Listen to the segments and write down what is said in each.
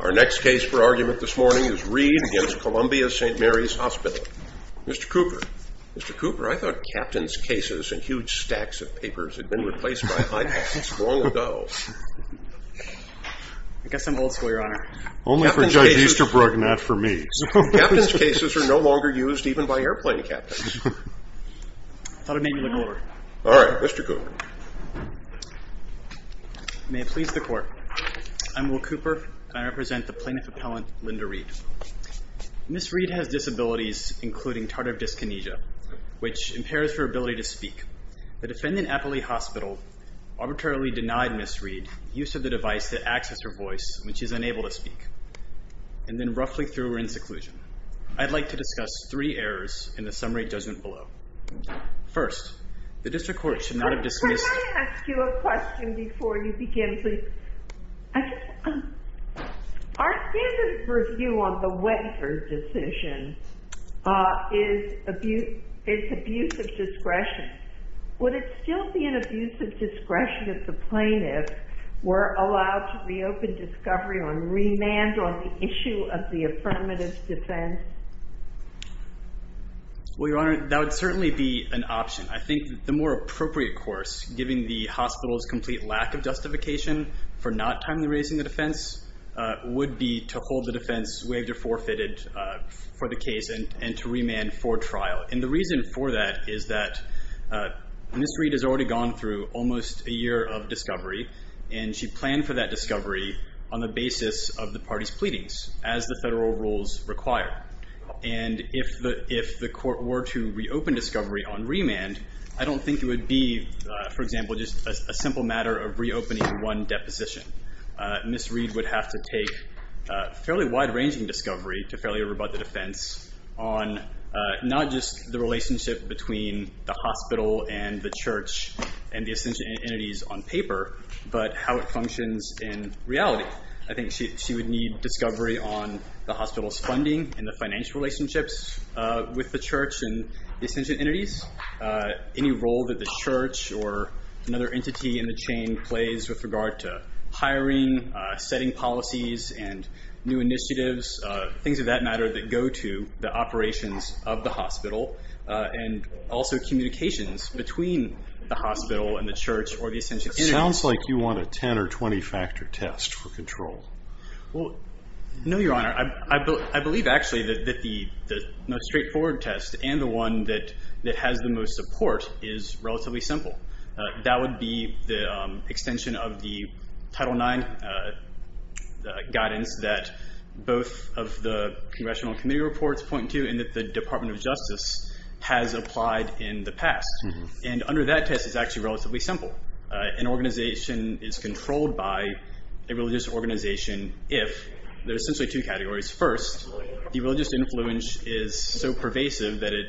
Our next case for argument this morning is Reed v. Columbia St. Mary's Hospital. Mr. Cooper, Mr. Cooper, I thought captains' cases and huge stacks of papers had been replaced by iPads long ago. I guess I'm old school, Your Honor. Only for Judge Easterbrook, not for me. Captains' cases are no longer used even by airplane captains. I thought it made me look older. All right, Mr. Cooper. May it please the Court. I'm Will Cooper, and I represent the Plaintiff Appellant, Linda Reed. Ms. Reed has disabilities including tardive dyskinesia, which impairs her ability to speak. The defendant, Appley Hospital, arbitrarily denied Ms. Reed use of the device that acts as her voice, which is unable to speak. And then roughly through her inseclusion. I'd like to discuss three errors in the summary judgment below. First, the district court should not have dismissed Could I ask you a question before you begin, please? Our standard review on the waiver decision is abuse of discretion. Would it still be an abuse of discretion if the plaintiffs were allowed to reopen discovery on remand on the issue of the affirmative defense? Well, Your Honor, that would certainly be an option. I think the more appropriate course, given the hospital's complete lack of justification for not timely raising the defense, would be to hold the defense waived or forfeited for the case and to remand for trial. And the reason for that is that Ms. Reed has already gone through almost a year of discovery, and she planned for that discovery on the basis of the party's pleadings, as the federal rules require. And if the court were to reopen discovery on remand, I don't think it would be, for example, just a simple matter of reopening one deposition. Ms. Reed would have to take fairly wide-ranging discovery to fairly rebut the defense on not just the relationship between the hospital and the church and the Ascension Entities on paper, but how it functions in reality. I think she would need discovery on the hospital's funding and the financial relationships with the church and the Ascension Entities, any role that the church or another entity in the chain plays with regard to hiring, setting policies and new initiatives, things of that matter that go to the operations of the hospital and also communications between the hospital and the church or the Ascension Entities. It sounds like you want a 10- or 20-factor test for control. Well, no, Your Honor. I believe, actually, that the most straightforward test and the one that has the most support is relatively simple. That would be the extension of the Title IX guidance that both of the Congressional Committee reports point to and that the Department of Justice has applied in the past. And under that test, it's actually relatively simple. An organization is controlled by a religious organization if there are essentially two categories. First, the religious influence is so pervasive that it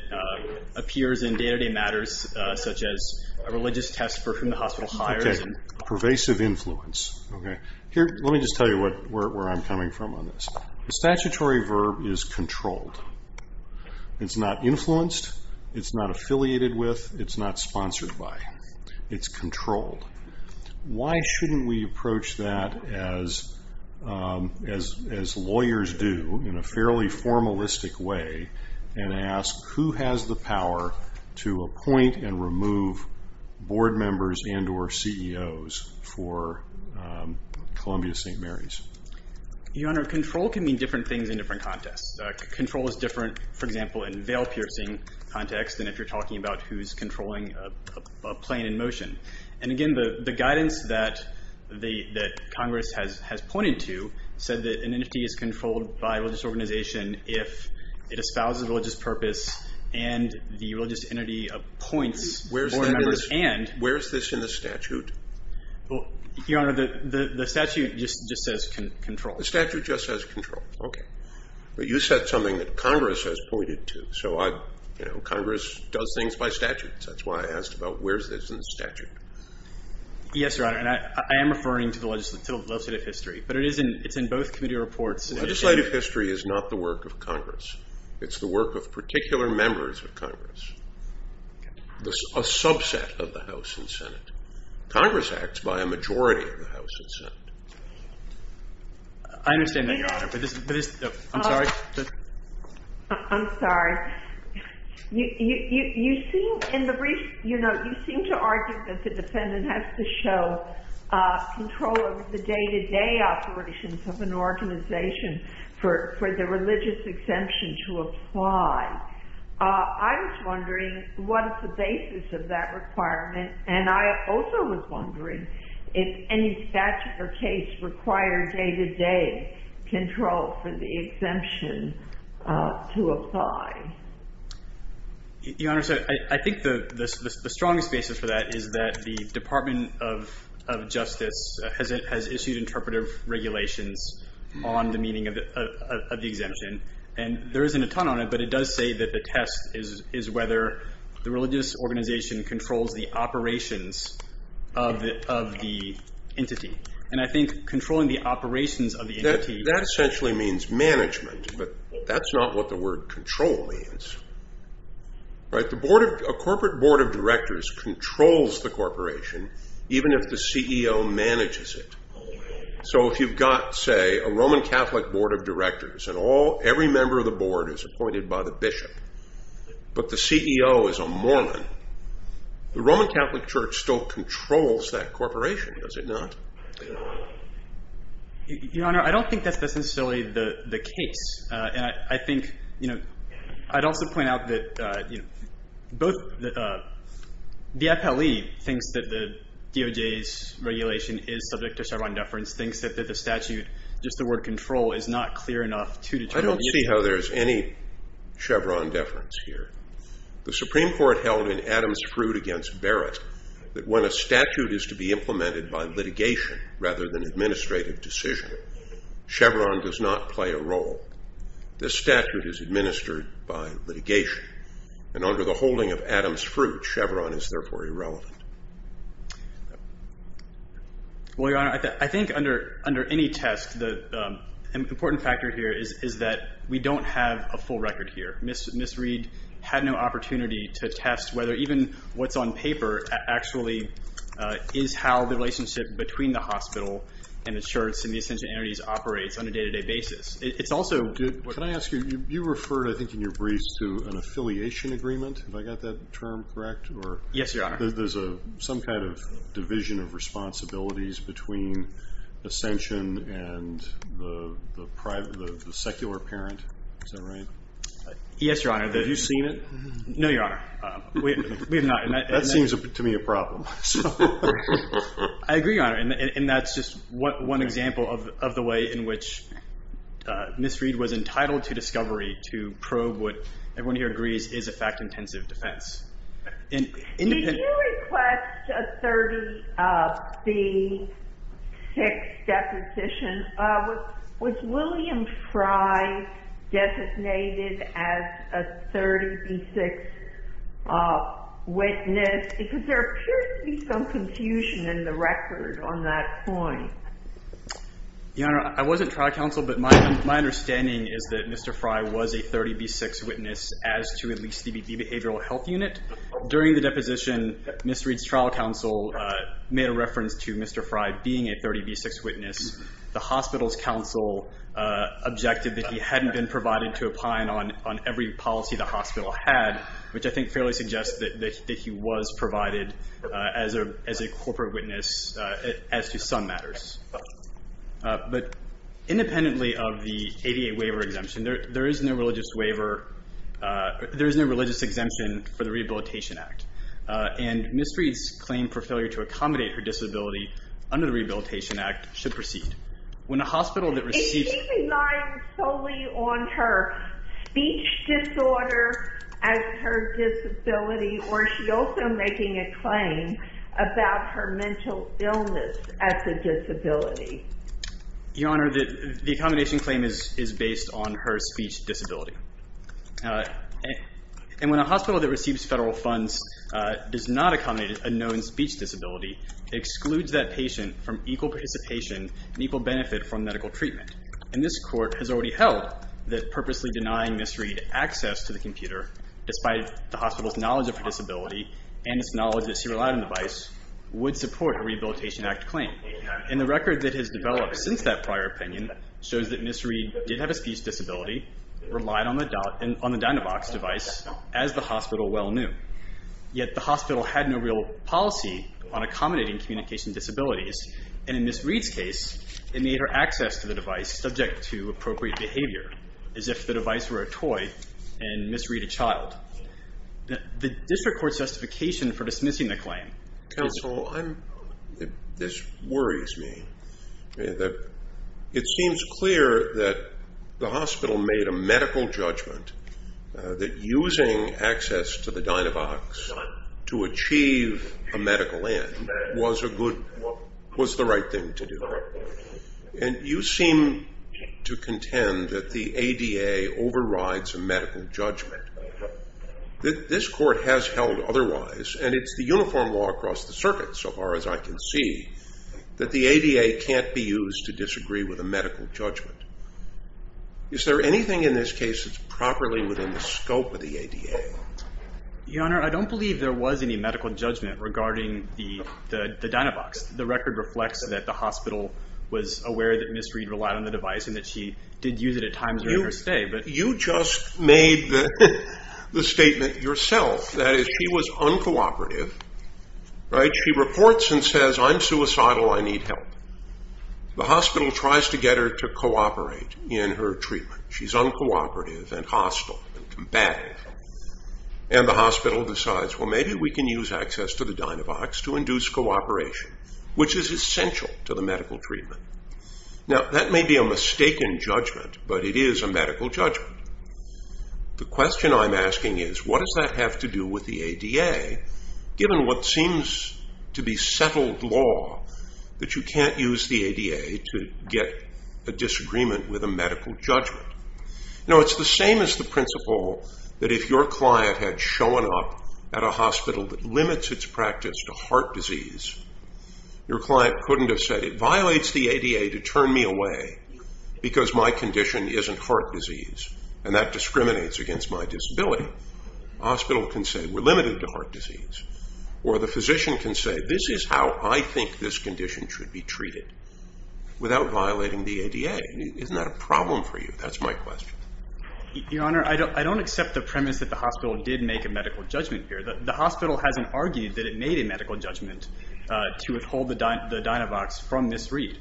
appears in day-to-day matters such as a religious test for whom the hospital hires. Okay, pervasive influence. Let me just tell you where I'm coming from on this. The statutory verb is controlled. It's not influenced. It's not affiliated with. It's not sponsored by. It's controlled. Why shouldn't we approach that, as lawyers do, in a fairly formalistic way and ask who has the power to appoint and remove board members and or CEOs for Columbia-St. Mary's? Your Honor, control can mean different things in different contexts. Control is different, for example, in veil-piercing context than if you're talking about who's controlling a plane in motion. And, again, the guidance that Congress has pointed to said that an entity is controlled by a religious organization if it espouses religious purpose and the religious entity appoints board members and— Where is this in the statute? Your Honor, the statute just says control. The statute just says control. Okay. But you said something that Congress has pointed to. So Congress does things by statute. That's why I asked about where is this in the statute. Yes, Your Honor, and I am referring to the legislative history, but it's in both committee reports. Legislative history is not the work of Congress. It's the work of particular members of Congress, a subset of the House and Senate. Congress acts by a majority of the House and Senate. I understand that, Your Honor, but this—I'm sorry. I'm sorry. You seem to argue that the defendant has to show control over the day-to-day operations of an organization for the religious exemption to apply. I was wondering what is the basis of that requirement, and I also was wondering if any statute or case required day-to-day control for the exemption to apply. Your Honor, I think the strongest basis for that is that the Department of Justice has issued interpretive regulations on the meaning of the exemption, and there isn't a ton on it, but it does say that the test is whether the religious organization controls the operations of the entity. And I think controlling the operations of the entity— That essentially means management, but that's not what the word control means. A corporate board of directors controls the corporation, even if the CEO manages it. So if you've got, say, a Roman Catholic board of directors, and every member of the board is appointed by the bishop, but the CEO is a Mormon, the Roman Catholic Church still controls that corporation, does it not? Your Honor, I don't think that's necessarily the case. I'd also point out that the FLE thinks that the DOJ's regulation is subject to Chevron deference, thinks that the statute, just the word control, is not clear enough to determine— I don't see how there's any Chevron deference here. The Supreme Court held in Adams' Fruit v. Barrett that when a statute is to be implemented by litigation rather than administrative decision, Chevron does not play a role. This statute is administered by litigation, and under the holding of Adams' Fruit, Chevron is therefore irrelevant. Well, Your Honor, I think under any test, an important factor here is that we don't have a full record here. Ms. Reed had no opportunity to test whether even what's on paper actually is how the relationship between the hospital and the church and the Ascension entities operates on a day-to-day basis. It's also— Can I ask you, you referred, I think, in your briefs to an affiliation agreement. Have I got that term correct? Yes, Your Honor. There's some kind of division of responsibilities between Ascension and the secular parent. Is that right? Yes, Your Honor. Have you seen it? No, Your Honor. We have not. That seems to me a problem. I agree, Your Honor, and that's just one example of the way in which Ms. Reed was entitled to discovery, to probe what everyone here agrees is a fact-intensive defense. Did you request a 30B6 deposition? Was William Fry designated as a 30B6 witness? Because there appears to be some confusion in the record on that point. Your Honor, I wasn't trial counsel, but my understanding is that Mr. Fry was a 30B6 witness as to at least the behavioral health unit. During the deposition, Ms. Reed's trial counsel made a reference to Mr. Fry being a 30B6 witness. The hospital's counsel objected that he hadn't been provided to opine on every policy the hospital had, which I think fairly suggests that he was provided as a corporate witness as to some matters. But independently of the ADA waiver exemption, there is no religious waiver. There is no religious exemption for the Rehabilitation Act, and Ms. Reed's claim for failure to accommodate her disability under the Rehabilitation Act should proceed. If she's relying solely on her speech disorder as her disability, or is she also making a claim about her mental illness as a disability? Your Honor, the accommodation claim is based on her speech disability. And when a hospital that receives federal funds does not accommodate a known speech disability, it excludes that patient from equal participation and equal benefit from medical treatment. And this Court has already held that purposely denying Ms. Reed access to the computer, despite the hospital's knowledge of her disability and its knowledge that she relied on the device, would support a Rehabilitation Act claim. And the record that has developed since that prior opinion shows that Ms. Reed did have a speech disability, relied on the Dynavox device, as the hospital well knew. Yet the hospital had no real policy on accommodating communication disabilities. And in Ms. Reed's case, it made her access to the device subject to appropriate behavior, as if the device were a toy and Ms. Reed a child. The district court's justification for dismissing the claim is... Counsel, this worries me. It seems clear that the hospital made a medical judgment that using access to the Dynavox to achieve a medical end was the right thing to do. And you seem to contend that the ADA overrides a medical judgment. This Court has held otherwise, and it's the uniform law across the circuit, so far as I can see, that the ADA can't be used to disagree with a medical judgment. Is there anything in this case that's properly within the scope of the ADA? Your Honor, I don't believe there was any medical judgment regarding the Dynavox. The record reflects that the hospital was aware that Ms. Reed relied on the device and that she did use it at times during her stay. You just made the statement yourself. That is, she was uncooperative. She reports and says, I'm suicidal, I need help. The hospital tries to get her to cooperate in her treatment. She's uncooperative and hostile and combative. And the hospital decides, well, maybe we can use access to the Dynavox to induce cooperation, which is essential to the medical treatment. Now, that may be a mistaken judgment, but it is a medical judgment. The question I'm asking is, what does that have to do with the ADA given what seems to be settled law that you can't use the ADA to get a disagreement with a medical judgment? It's the same as the principle that if your client had shown up at a hospital that limits its practice to heart disease, your client couldn't have said, it violates the ADA to turn me away because my condition isn't heart disease and that discriminates against my disability. The hospital can say, we're limited to heart disease. Or the physician can say, this is how I think this condition should be treated without violating the ADA. Isn't that a problem for you? That's my question. Your Honor, I don't accept the premise that the hospital did make a medical judgment here. The hospital hasn't argued that it made a medical judgment to withhold the Dynavox from Ms. Reed.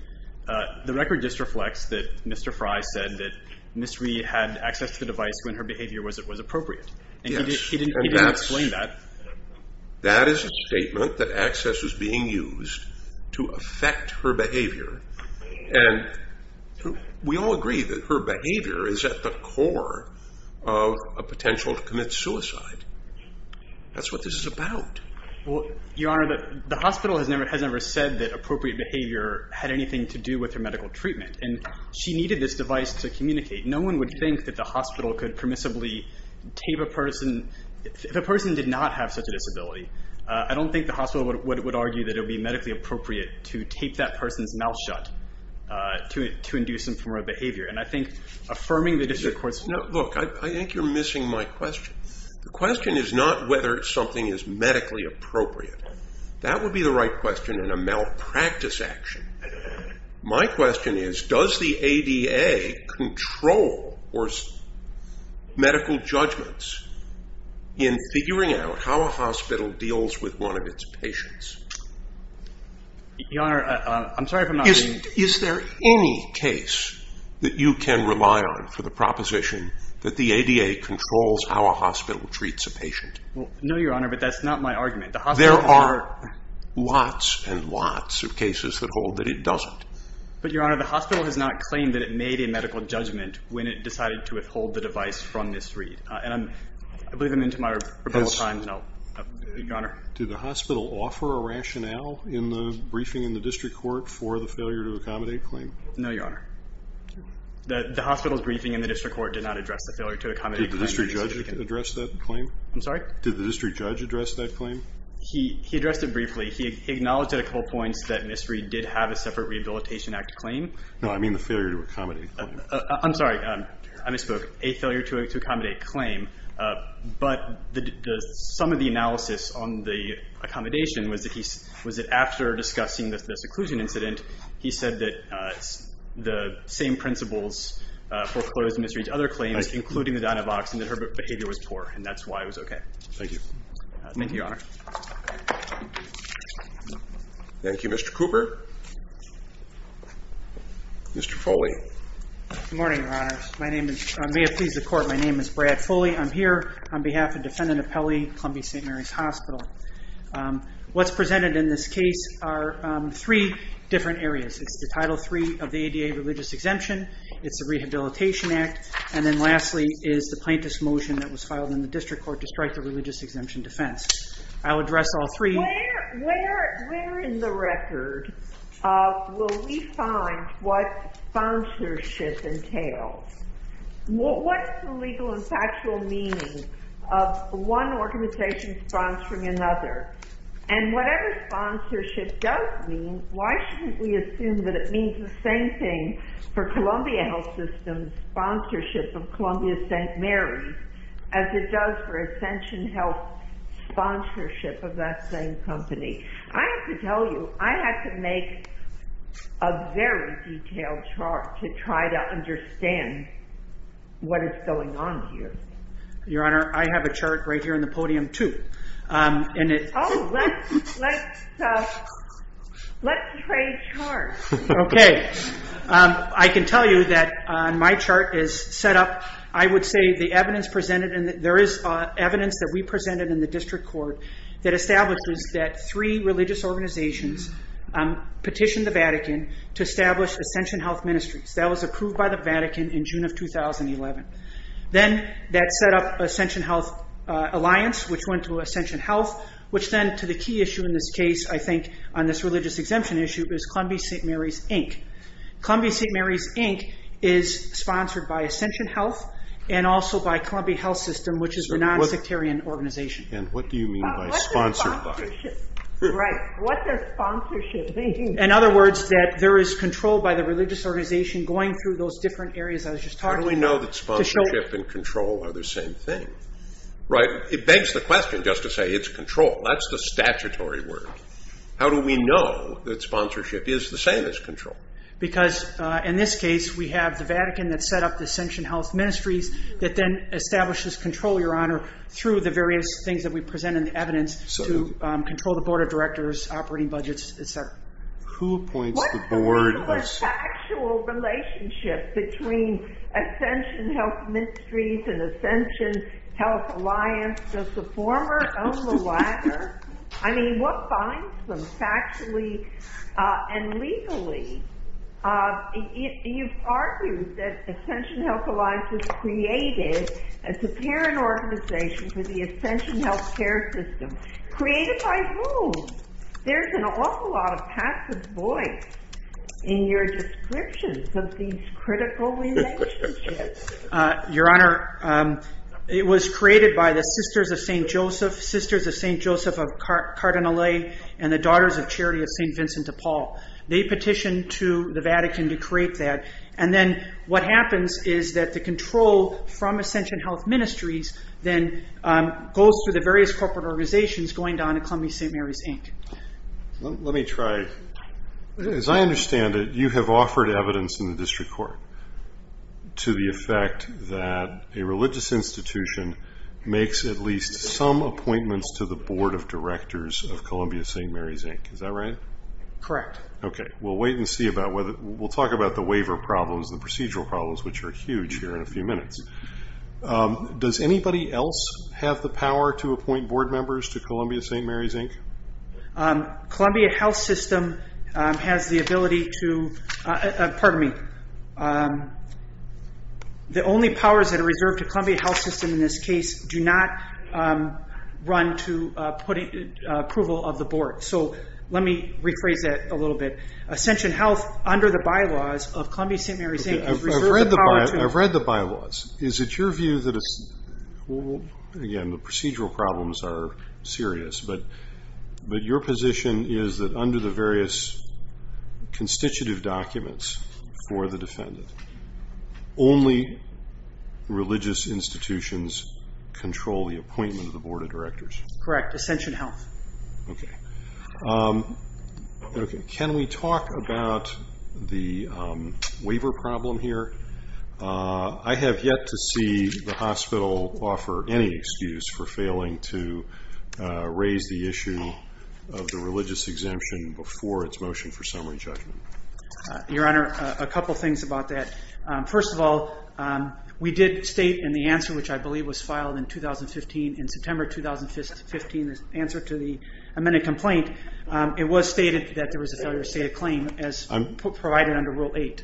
The record just reflects that Mr. Frye said that Ms. Reed had access to the device when her behavior was appropriate. He didn't explain that. That is a statement that access is being used to affect her behavior. We all agree that her behavior is at the core of a potential to commit suicide. That's what this is about. Your Honor, the hospital has never said that appropriate behavior had anything to do with her medical treatment. She needed this device to communicate. No one would think that the hospital could permissibly tape a person. If a person did not have such a disability, I don't think the hospital would argue that it would be medically appropriate to tape that person's mouth shut to induce some form of behavior. And I think affirming the district court's view. Look, I think you're missing my question. The question is not whether something is medically appropriate. That would be the right question in a malpractice action. My question is, does the ADA control medical judgments in figuring out how a hospital deals with one of its patients? Your Honor, I'm sorry if I'm not reading. Is there any case that you can rely on for the proposition that the ADA controls how a hospital treats a patient? There are lots and lots of cases that hold that it doesn't. But, Your Honor, the hospital has not claimed that it made a medical judgment when it decided to withhold the device from Ms. Reed. And I believe I'm into my rebuttal time. No. Your Honor? Did the hospital offer a rationale in the briefing in the district court for the failure to accommodate claim? No, Your Honor. The hospital's briefing in the district court did not address the failure to accommodate claims. Did the district judge address that claim? I'm sorry? Did the district judge address that claim? He addressed it briefly. He acknowledged at a couple points that Ms. Reed did have a separate Rehabilitation Act claim. No, I mean the failure to accommodate claim. I'm sorry. I misspoke. A failure to accommodate claim. But some of the analysis on the accommodation was that after discussing the seclusion incident, he said that the same principles foreclosed Ms. Reed's other claims, including the DynaVox, and that her behavior was poor. And that's why it was okay. Thank you. Thank you, Your Honor. Thank you, Mr. Cooper. Mr. Foley. Good morning, Your Honors. May it please the Court, my name is Brad Foley. I'm here on behalf of Defendant Apelli, Columbia St. Mary's Hospital. What's presented in this case are three different areas. It's the Title III of the ADA Religious Exemption. It's the Rehabilitation Act. And then lastly is the plaintiff's motion that was filed in the district court to strike the religious exemption defense. I'll address all three. Where in the record will we find what sponsorship entails? What's the legal and factual meaning of one organization sponsoring another? And whatever sponsorship does mean, why shouldn't we assume that it means the same thing for Columbia Health System's sponsorship of Columbia St. Mary's as it does for Extension Health sponsorship of that same company? I have to tell you, I had to make a very detailed chart to try to understand what is going on here. Your Honor, I have a chart right here on the podium, too. Oh, let's trade charts. Okay. I can tell you that my chart is set up. I would say there is evidence that we presented in the district court that establishes that three religious organizations petitioned the Vatican to establish Extension Health Ministries. That was approved by the Vatican in June of 2011. Then that set up Extension Health Alliance, which went to Extension Health, which then to the key issue in this case, I think, on this religious exemption issue is Columbia St. Mary's, Inc. Columbia St. Mary's, Inc. is sponsored by Extension Health and also by Columbia Health System, which is a nonsectarian organization. And what do you mean by sponsored by? Right. What does sponsorship mean? In other words, that there is control by the religious organization going through those different areas I was just talking about. How do we know that sponsorship and control are the same thing? Right. It begs the question just to say it's control. That's the statutory word. How do we know that sponsorship is the same as control? Because in this case, we have the Vatican that set up the Extension Health Ministries that then establishes control, Your Honor, through the various things that we present in the evidence to control the Board of Directors, operating budgets, et cetera. Who appoints the board? What is the actual relationship between Extension Health Ministries and Extension Health Alliance? Does the former own the latter? I mean, what binds them factually and legally? You've argued that Extension Health Alliance was created as a parent organization for the Extension health care system. Created by whom? There's an awful lot of passive voice in your description of these critical relationships. Your Honor, it was created by the Sisters of St. Joseph, of Cardinal Lay, and the Daughters of Charity of St. Vincent de Paul. They petitioned to the Vatican to create that. And then what happens is that the control from Extension Health Ministries then goes through the various corporate organizations going down to Columbia St. Mary's, Inc. Let me try. As I understand it, you have offered evidence in the district court to the effect that a religious institution makes at least some appointments to the directors of Columbia St. Mary's, Inc. Is that right? Correct. Okay. We'll wait and see about whether we'll talk about the waiver problems, the procedural problems, which are huge here in a few minutes. Does anybody else have the power to appoint board members to Columbia St. Mary's, Inc.? Columbia Health System has the ability to, pardon me, the only powers that are reserved to Columbia Health System in this case do not run to approval of the board. So let me rephrase that a little bit. Extension Health, under the bylaws of Columbia St. Mary's, Inc. I've read the bylaws. Is it your view that it's, again, the procedural problems are serious, but your position is that under the various constitutive documents for the board of directors? Correct. Extension Health. Okay. Can we talk about the waiver problem here? I have yet to see the hospital offer any excuse for failing to raise the issue of the religious exemption before its motion for summary judgment. Your Honor, a couple things about that. First of all, we did state in the answer, which I believe was filed in 2015, in September 2015, the answer to the amended complaint, it was stated that there was a failure to state a claim as provided under Rule 8.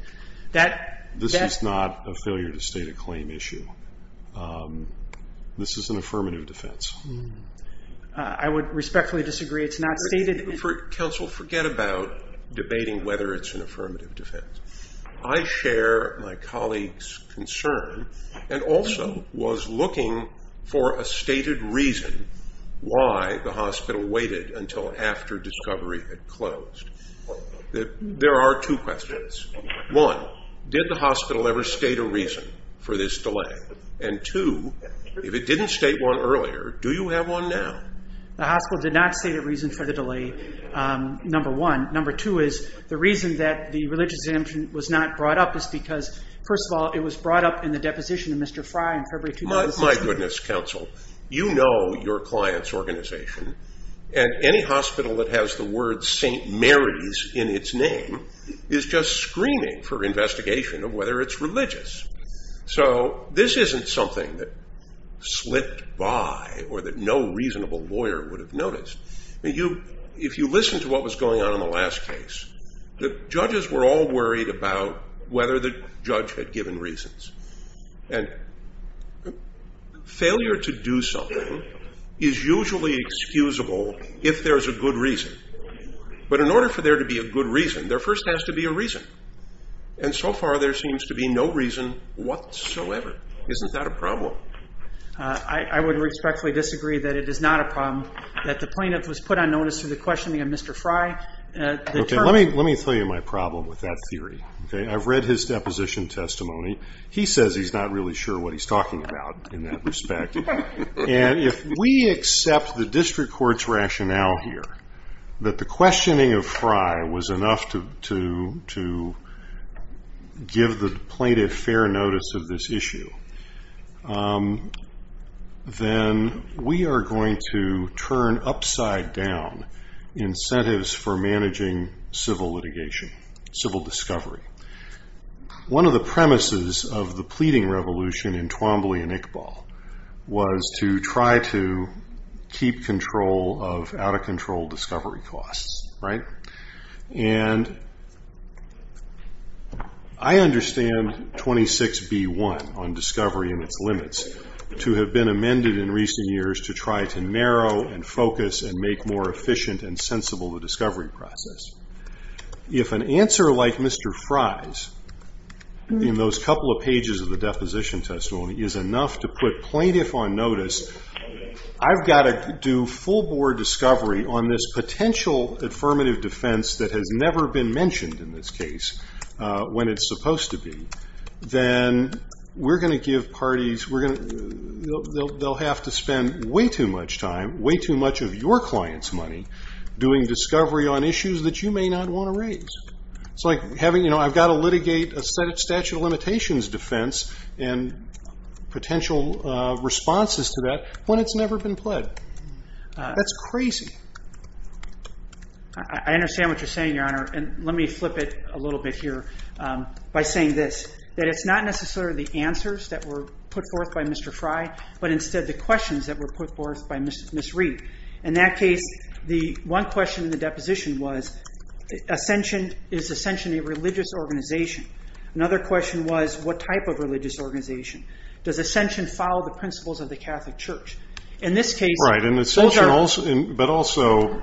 This is not a failure to state a claim issue. This is an affirmative defense. I would respectfully disagree. It's not stated. Counsel, forget about debating whether it's an affirmative defense. I share my colleague's concern and also was looking for a stated reason why the hospital waited until after discovery had closed. There are two questions. One, did the hospital ever state a reason for this delay? And two, if it didn't state one earlier, do you have one now? The hospital did not state a reason for the delay, number one. Number two is the reason that the religious exemption was not brought up is because, first of all, it was brought up in the deposition of Mr. Fry in February 2016. My goodness, counsel. You know your client's organization, and any hospital that has the word St. Mary's in its name is just screaming for investigation of whether it's religious. So this isn't something that slipped by or that no reasonable lawyer would have noticed. If you listen to what was going on in the last case, the judges were all worried about whether the judge had given reasons. And failure to do something is usually excusable if there's a good reason. But in order for there to be a good reason, there first has to be a reason. And so far there seems to be no reason whatsoever. Isn't that a problem? I would respectfully disagree that it is not a problem. That the plaintiff was put on notice for the questioning of Mr. Fry. Let me tell you my problem with that theory. I've read his deposition testimony. He says he's not really sure what he's talking about in that respect. And if we accept the district court's rationale here, that the questioning of Fry was enough to give the plaintiff fair notice of this down incentives for managing civil litigation, civil discovery. One of the premises of the pleading revolution in Twombly and Iqbal was to try to keep control of out of control discovery costs. And I understand 26B1 on discovery and its limits to have been amended in focus and make more efficient and sensible the discovery process. If an answer like Mr. Fry's in those couple of pages of the deposition testimony is enough to put plaintiff on notice, I've got to do full board discovery on this potential affirmative defense that has never been mentioned in this case when it's supposed to be. Then we're going to give parties, they'll have to spend way too much time, way too much of your client's money, doing discovery on issues that you may not want to raise. It's like I've got to litigate a statute of limitations defense and potential responses to that when it's never been pled. That's crazy. I understand what you're saying, Your Honor. And let me flip it a little bit here by saying this, that it's not necessarily the answers that were put forth by Mr. Fry, but instead the questions that were put forth by Ms. Reed. In that case, the one question in the deposition was, is Ascension a religious organization? Another question was, what type of religious organization? Does Ascension follow the principles of the Catholic Church? In this case, those are- Right, but also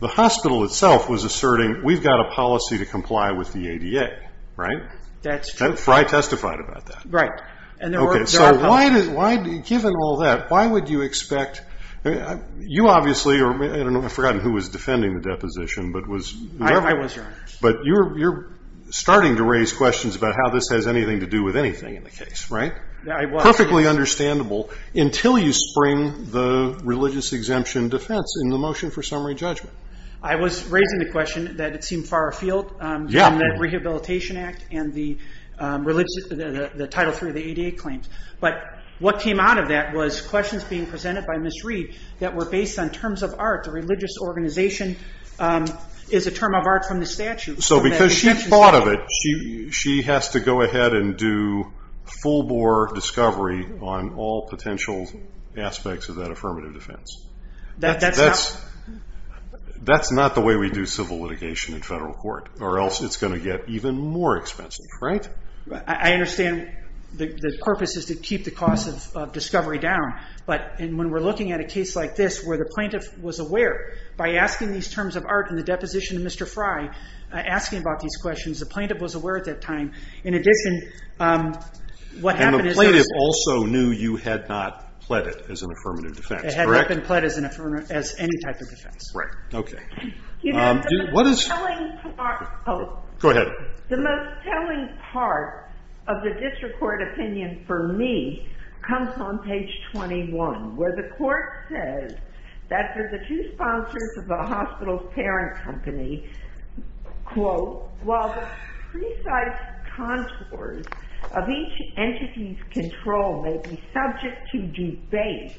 the hospital itself was asserting, we've got a policy to comply with the ADA, right? That's true. Fry testified about that. Right. Okay, so given all that, why would you expect, you obviously, I've forgotten who was defending the deposition. I was, Your Honor. But you're starting to raise questions about how this has anything to do with anything in the case, right? I was. Perfectly understandable until you spring the religious exemption defense in the motion for summary judgment. I was raising the question that it seemed far afield from the Rehabilitation Act and the Title III of the ADA claims. But what came out of that was questions being presented by Ms. Reed that were based on terms of art. A religious organization is a term of art from the statute. So because she thought of it, she has to go ahead and do full bore discovery on all potential aspects of that affirmative defense. That's not the way we do civil litigation in federal court, or else it's going to get even more expensive, right? I understand the purpose is to keep the cost of discovery down. But when we're looking at a case like this where the plaintiff was aware, by asking these terms of art in the deposition of Mr. Fry, asking about these questions, the plaintiff was aware at that time. In addition, what happened is that- And the plaintiff also knew you had not pled it as an affirmative defense, correct? It had not been pled as any type of defense. Right. Okay. Go ahead. The most telling part of the district court opinion for me comes on page 21, where the court says that for the two sponsors of the hospital's parent company, quote, while the precise contours of each entity's control may be subject to debate,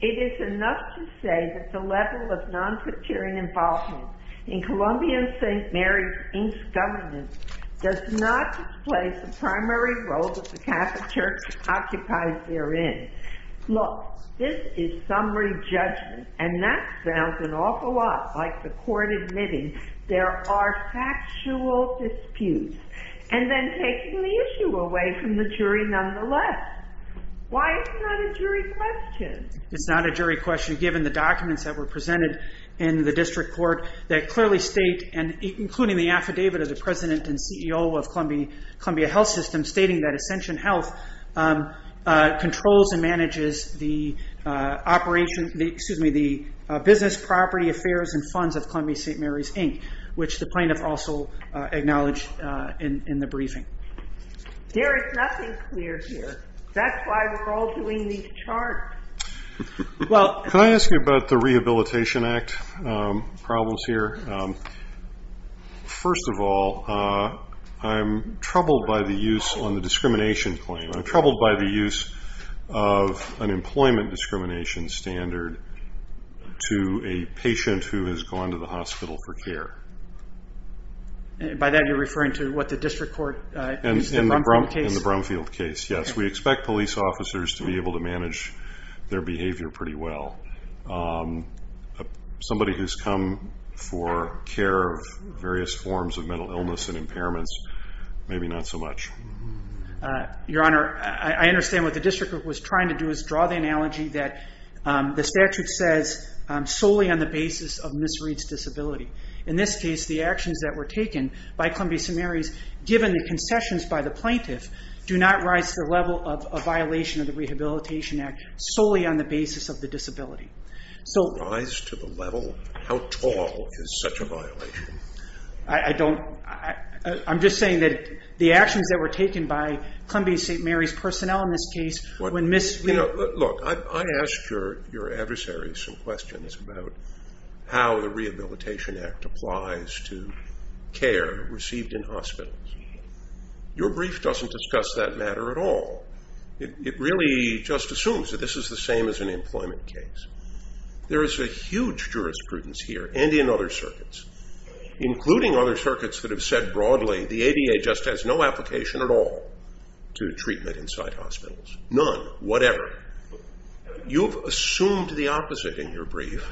it is enough to say that the level of non-criterion involvement in Columbian St. Mary's Inc. governance does not displace the primary role that the Catholic Church occupies therein. Look, this is summary judgment, and that sounds an awful lot like the court admitting there are factual disputes, and then taking the issue away from the jury nonetheless. Why is it not a jury question? It's not a jury question given the documents that were presented in the district court that clearly state, including the affidavit of the president and CEO of Columbia Health System, stating that Ascension Health controls and manages the business, property, affairs, and funds of Columbia St. Mary's Inc., which the plaintiff also acknowledged in the briefing. There is nothing clear here. That's why we're all doing these charts. Can I ask you about the Rehabilitation Act problems here? First of all, I'm troubled by the use on the discrimination claim. I'm troubled by the use of an employment discrimination standard to a patient who has gone to the hospital for care. By that you're referring to what the district court in the Brumfield case? In the Brumfield case, yes. We expect police officers to be able to manage their behavior pretty well. Somebody who's come for care of various forms of mental illness and impairments, maybe not so much. Your Honor, I understand what the district was trying to do is draw the analogy that the statute says solely on the basis of Ms. Reed's disability. In this case, the actions that were taken by Columbia St. Mary's, given the concessions by the plaintiff, do not rise to the level of a violation of the Rehabilitation Act solely on the basis of the disability. Rise to the level? How tall is such a violation? I'm just saying that the actions that were taken by Columbia St. Mary's personnel in this case when Ms. Reed I asked your adversaries some questions about how the Rehabilitation Act applies to care received in hospitals. Your brief doesn't discuss that matter at all. It really just assumes that this is the same as an employment case. There is a huge jurisprudence here and in other circuits, including other circuits that have said broadly the ADA just has no application at all to treatment inside hospitals. None. Whatever. You've assumed the opposite in your brief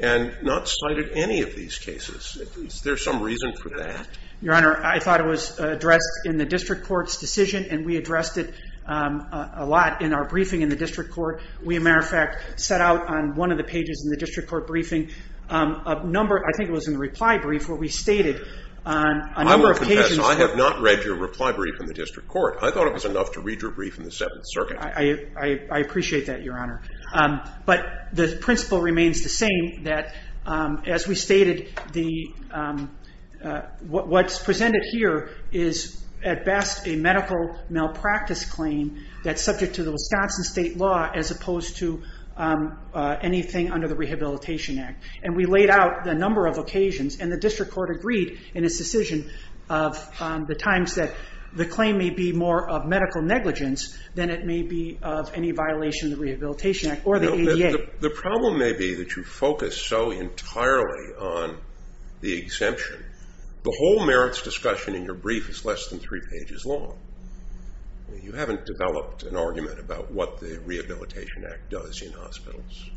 and not cited any of these cases. Is there some reason for that? Your Honor, I thought it was addressed in the district court's decision and we addressed it a lot in our briefing in the district court. We, as a matter of fact, set out on one of the pages in the district court briefing a number, I think it was in the reply brief, where we stated on a number of occasions that I have not read your reply brief in the district court. I thought it was enough to read your brief in the Seventh Circuit. I appreciate that, Your Honor. But the principle remains the same, that as we stated, what's presented here is at best a medical malpractice claim that's subject to the Wisconsin state law as opposed to anything under the Rehabilitation Act. And we laid out the number of occasions, and the district court agreed in its decision of the times that the claim may be more of medical negligence than it may be of any violation of the Rehabilitation Act or the ADA. The problem may be that you focus so entirely on the exemption. The whole merits discussion in your brief is less than three pages long. You haven't developed an argument about what the Rehabilitation Act does in hospitals.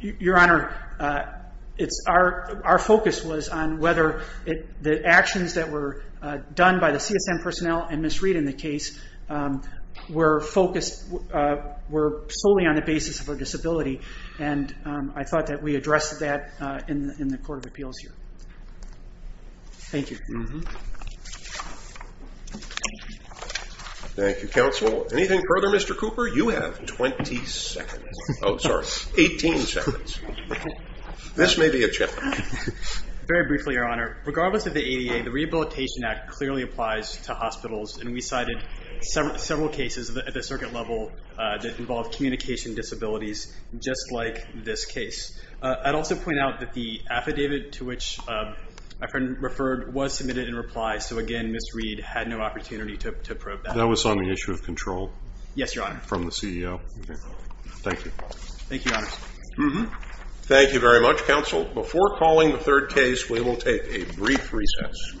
Your Honor, our focus was on whether the actions that were done by the CSM personnel and Ms. Reed in the case were focused solely on the basis of her disability. And I thought that we addressed that in the Court of Appeals here. Thank you. Thank you, Counsel. Anything further, Mr. Cooper? You have 20 seconds. Oh, sorry, 18 seconds. This may be a challenge. Very briefly, Your Honor, regardless of the ADA, the Rehabilitation Act clearly applies to hospitals, and we cited several cases at the circuit level that involved communication disabilities, just like this case. I'd also point out that the affidavit to which my friend referred was submitted in reply, so, again, Ms. Reed had no opportunity to probe that. That was on the issue of control. Yes, Your Honor. From the CEO. Okay. Thank you. Thank you, Your Honor. Thank you very much, Counsel. Before calling the third case, we will take a brief recess.